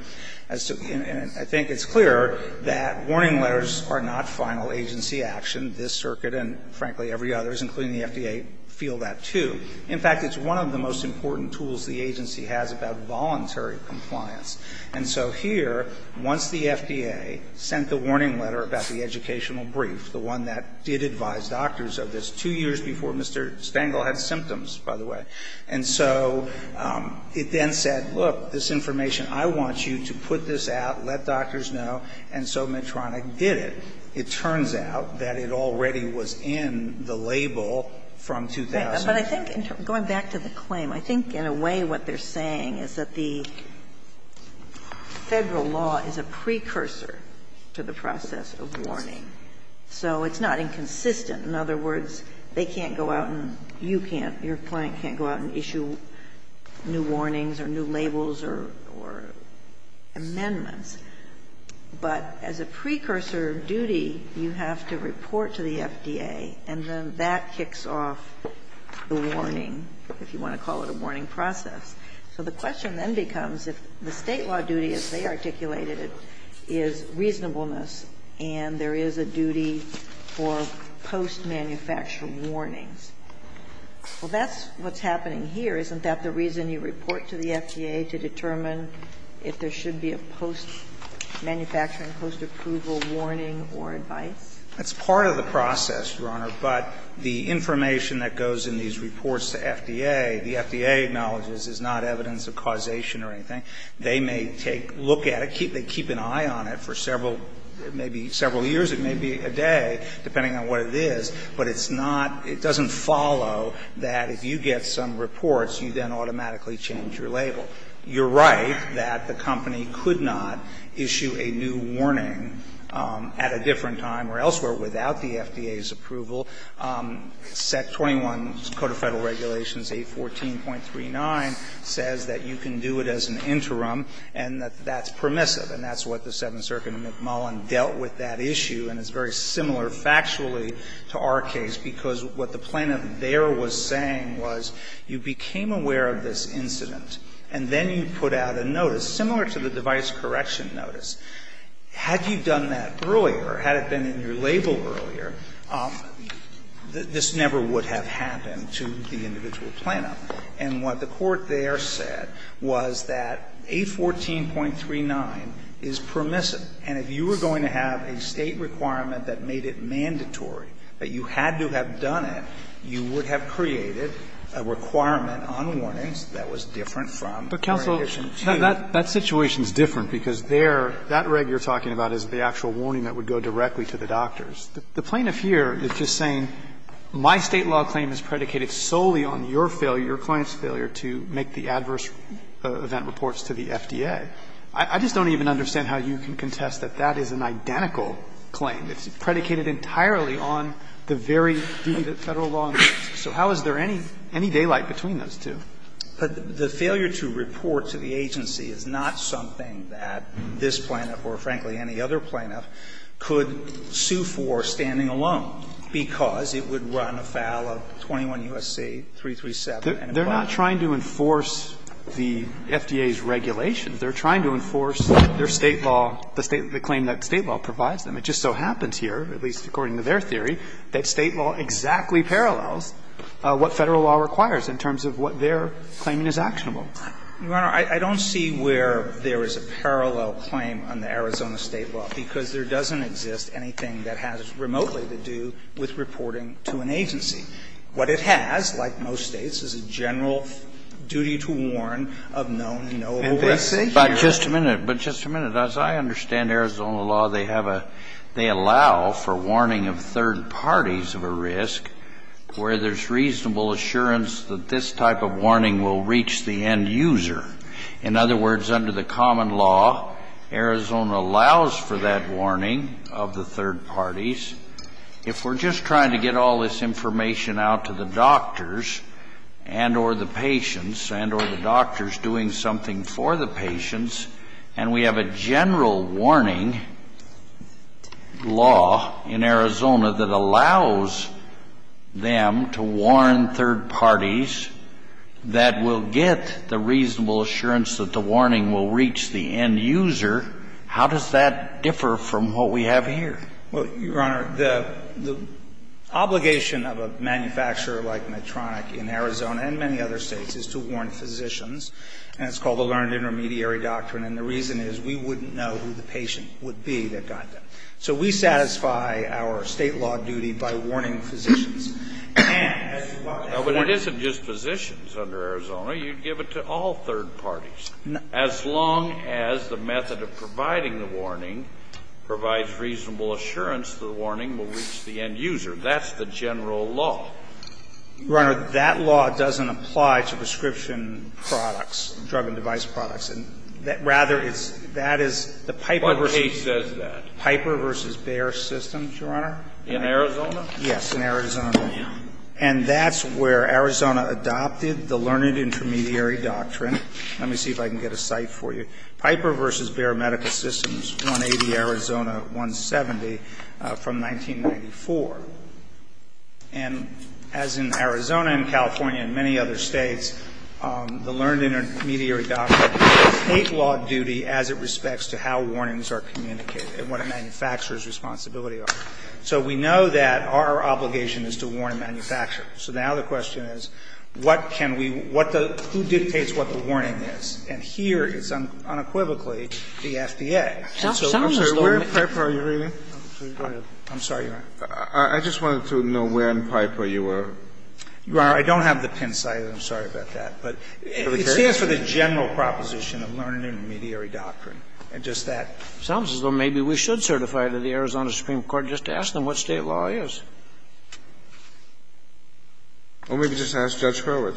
And I think it's clear that warning letters are not final agency action. This circuit and, frankly, every other, including the FDA, feel that, too. In fact, it's one of the most important tools the agency has about voluntary compliance. And so here, once the FDA sent the warning letter about the educational brief, the one that did advise doctors of this, two years before Mr. Stengel had symptoms, by the way. And so it then said, look, this information, I want you to put this out, let doctors know, and so Medtronic did it. It turns out that it already was in the label from 2009. But I think, going back to the claim, I think in a way what they're saying is that the Federal law is a precursor to the process of warning. So it's not inconsistent. In other words, they can't go out and you can't, your client can't go out and issue new warnings or new labels or amendments. But as a precursor duty, you have to report to the FDA, and then that kicks off the warning, if you want to call it a warning process. So the question then becomes if the State law duty, as they articulated it, is reasonableness and there is a duty for post-manufacturing warnings. Well, that's what's happening here. Isn't that the reason you report to the FDA to determine if there should be a post-manufacturing, post-approval warning or advice? That's part of the process, Your Honor, but the information that goes in these reports to FDA, the FDA acknowledges is not evidence of causation or anything. They may take a look at it, keep an eye on it for several, maybe several years, it may be a day, depending on what it is, but it's not, it doesn't follow that if you get some reports, you then automatically change your label. You're right that the company could not issue a new warning at a different time or elsewhere, without the FDA's approval, except 21, Code of Federal Regulations 814.39 says that you can do it as an interim and that that's permissive. And that's what the Seventh Circuit in McMullin dealt with that issue, and it's very similar factually to our case, because what the plaintiff there was saying was you became aware of this incident and then you put out a notice, similar to the device correction notice. Had you done that earlier, had it been in your label earlier, this never would have happened to the individual plaintiff. And what the court there said was that 814.39 is permissive, and if you were going to have a State requirement that made it mandatory, that you had to have done it, you would have created a requirement on warnings that was different from the rendition 2. That situation is different, because there, that reg you're talking about is the actual warning that would go directly to the doctors. The plaintiff here is just saying my State law claim is predicated solely on your failure, your client's failure to make the adverse event reports to the FDA. I just don't even understand how you can contest that that is an identical claim. It's predicated entirely on the very Federal law. So how is there any daylight between those two? But the failure to report to the agency is not something that this plaintiff or, frankly, any other plaintiff could sue for standing alone, because it would run afoul of 21 U.S.C. 337 and above. They're not trying to enforce the FDA's regulations. They're trying to enforce their State law, the State, the claim that State law provides them. It just so happens here, at least according to their theory, that State law exactly parallels what Federal law requires in terms of what their claiming is actionable. Your Honor, I don't see where there is a parallel claim on the Arizona State law, because there doesn't exist anything that has remotely to do with reporting to an agency. What it has, like most States, is a general duty to warn of known and knowable risks. Kennedy. But just a minute, but just a minute. As I understand Arizona law, they have a, they allow for warning of third parties of a risk where there's reasonable assurance that this type of warning will reach the end user. In other words, under the common law, Arizona allows for that warning of the third parties. If we're just trying to get all this information out to the doctors and or the patients and or the doctors doing something for the patients, and we have a general warning law in Arizona that allows them to warn third parties that will get the reasonable assurance that the warning will reach the end user, how does that differ from what we have here? Well, Your Honor, the obligation of a manufacturer like Medtronic in Arizona and many other States is to warn physicians, and it's called the learned intermediary doctrine, and the reason is we wouldn't know who the patient would be that got that. So we satisfy our State law duty by warning physicians. And as far as the warning of the third parties is concerned, it's a general law. As long as the method of providing the warning provides reasonable assurance the warning will reach the end user, that's the general law. Your Honor, that law doesn't apply to prescription products, drug and device products. Rather, that is the Piper versus Bear system, Your Honor. In Arizona? Yes, in Arizona. And that's where Arizona adopted the learned intermediary doctrine. Let me see if I can get a cite for you. Piper versus Bear Medical Systems, 180 Arizona, 170, from 1994. And as in Arizona and California and many other States, the learned intermediary doctrine dictates law duty as it respects to how warnings are communicated and what a manufacturer's responsibility are. So we know that our obligation is to warn a manufacturer. So now the question is, what can we do, who dictates what the warning is? And here it's unequivocally the FDA. And so where in Piper are you reading? I'm sorry, Your Honor. I just wanted to know where in Piper you were. Your Honor, I don't have the pin cited. I'm sorry about that. But it stands for the general proposition of learned intermediary doctrine. And just that. It sounds as though maybe we should certify to the Arizona Supreme Court just to ask them what State law is. Well, maybe just ask Judge Fletcher.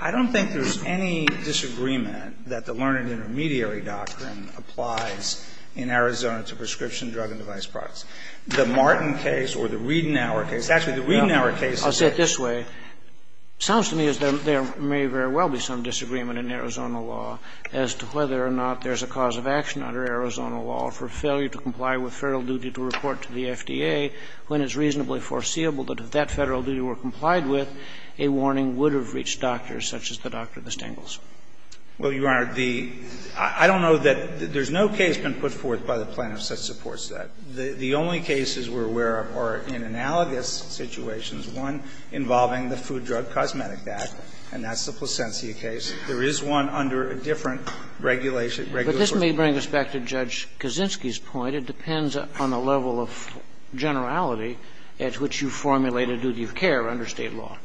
I don't think there's any disagreement that the learned intermediary doctrine applies in Arizona to prescription drug and device products. The Martin case or the Riedenauer case, actually, the Riedenauer case is a law. I'll say it this way. It sounds to me as though there may very well be some disagreement in Arizona law as to whether or not there's a cause of action under Arizona law for failure to comply with Federal duty to report to the FDA when it's reasonably foreseeable that if that Federal duty were complied with, a warning would have reached doctors such as the Dr. Distingles. Well, Your Honor, the — I don't know that — there's no case been put forth by the plaintiffs that supports that. The only cases we're aware of are in analogous situations, one involving the Food Drug Cosmetic Act, and that's the Plasencia case. There is one under a different regulation, regular source. But this may bring us back to Judge Kaczynski's point. It depends on the level of generality at which you formulate a duty of care under State law.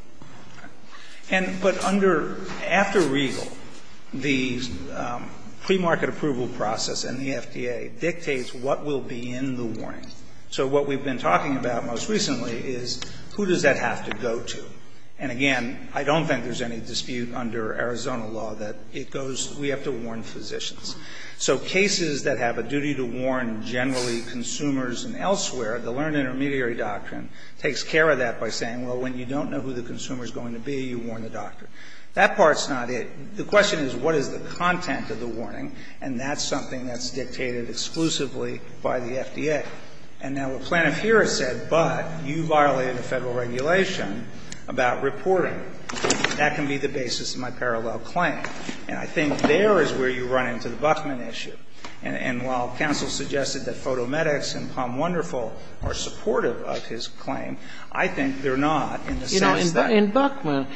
And — but under — after Regal, the premarket approval process and the FDA dictates what will be in the warning. So what we've been talking about most recently is who does that have to go to. And again, I don't think there's any dispute under Arizona law that it goes — we have to warn physicians. So cases that have a duty to warn generally consumers and elsewhere, the learned intermediary doctrine takes care of that by saying, well, when you don't know who the consumer is going to be, you warn the doctor. That part's not it. The question is what is the content of the warning, and that's something that's been discussed extensively by the FDA. And now what Planofero said, but you violated a Federal regulation about reporting. That can be the basis of my parallel claim. And I think there is where you run into the Buckman issue. And while counsel suggested that Photomedics and Palm Wonderful are supportive of his claim, I think they're not in the sense that — Kagan in Buckman,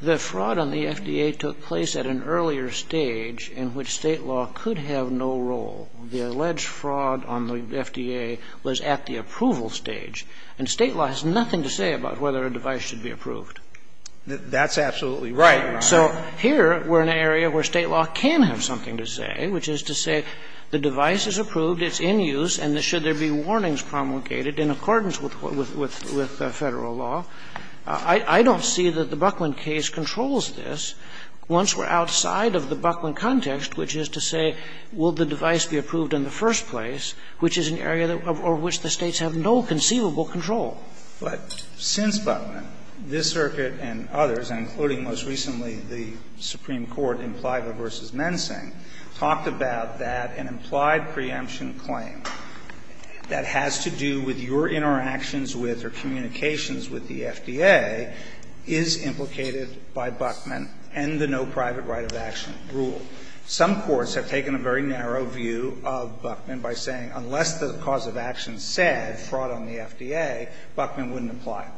the fraud on the FDA took place at an earlier stage in which State law could have no role. The alleged fraud on the FDA was at the approval stage. And State law has nothing to say about whether a device should be approved. That's absolutely right. So here we're in an area where State law can have something to say, which is to say the device is approved, it's in use, and should there be warnings promulgated in accordance with Federal law. I don't see that the Buckman case controls this. Once we're outside of the Buckman context, which is to say, will the device be approved in the first place, which is an area of which the States have no conceivable control. But since Buckman, this Circuit and others, including most recently the Supreme Court in Pliva v. Mensing, talked about that an implied preemption claim that has to do with your interactions with or communications with the FDA is implicated by Buckman and the no private right of action rule. Some courts have taken a very narrow view of Buckman by saying unless the cause of action said fraud on the FDA, Buckman wouldn't apply.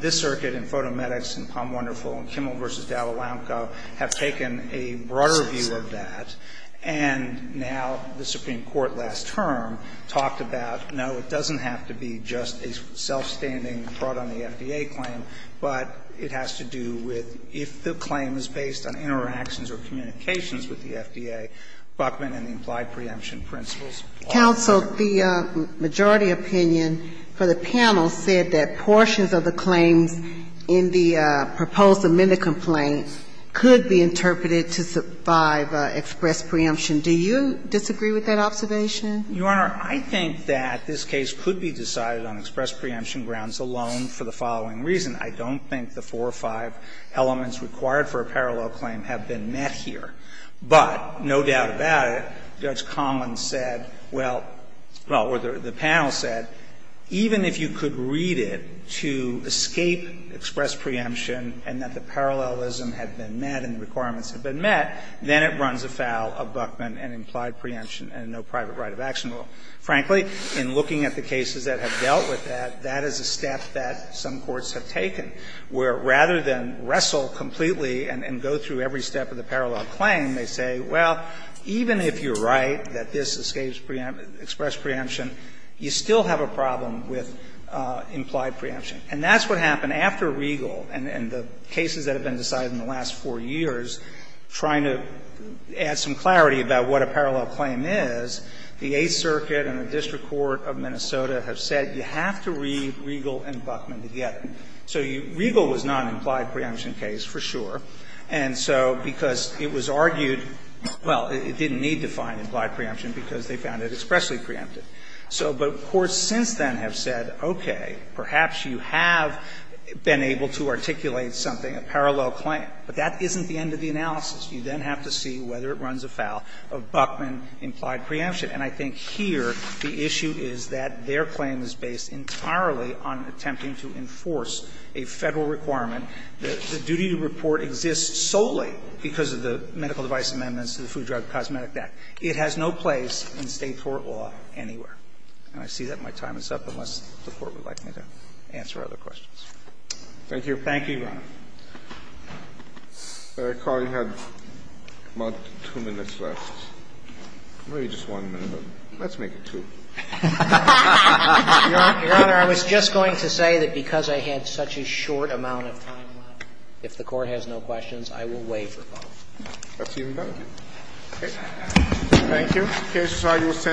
This Circuit and Fotomedics and POM Wonderful and Kimmel v. Dallal-Lamco have taken a broader view of that. And now the Supreme Court last term talked about, no, it doesn't have to be just a self-standing fraud on the FDA claim, but it has to do with if the claim is based on interactions or communications with the FDA, Buckman and the implied preemption principles. The majority opinion for the panel said that portions of the claims in the proposed amendment complaint could be interpreted to survive express preemption. Do you disagree with that observation? Verrilli, Your Honor, I think that this case could be decided on express preemption grounds alone for the following reason. I don't think the four or five elements required for a parallel claim have been met here. But no doubt about it, Judge Commins said, well, well, or the panel said, even if you could read it to escape express preemption and that the parallelism had been met and the requirements had been met, then it runs afoul of Buckman and implied preemption and no private right of action rule. Frankly, in looking at the cases that have dealt with that, that is a step that some courts have taken, where rather than wrestle completely and go through every step of the parallel claim, they say, well, even if you're right that this escapes preemption, express preemption, you still have a problem with implied preemption. And that's what happened after Regal and the cases that have been decided in the last four years, trying to add some clarity about what a parallel claim is, the Eighth Circuit and the District Court of Minnesota have said you have to read Regal and Buckman together. So Regal was not an implied preemption case, for sure. And so because it was argued, well, it didn't need to find implied preemption because they found it expressly preempted. So but courts since then have said, okay, perhaps you have been able to articulate something, a parallel claim. But that isn't the end of the analysis. You then have to see whether it runs afoul of Buckman implied preemption. And I think here the issue is that their claim is based entirely on attempting to enforce a Federal requirement. The duty to report exists solely because of the medical device amendments to the Food Drug Cosmetic Act. It has no place in State court law anywhere. And I see that my time is up, unless the Court would like me to answer other questions. Thank you. Roberts. I recall you had about 2 minutes left, maybe just 1 minute, but let's make it 2. Your Honor, I was just going to say that because I had such a short amount of time left, if the Court has no questions, I will waive your call. That's even better. Thank you. The case is argued as 10-2 minutes. We're adjourned.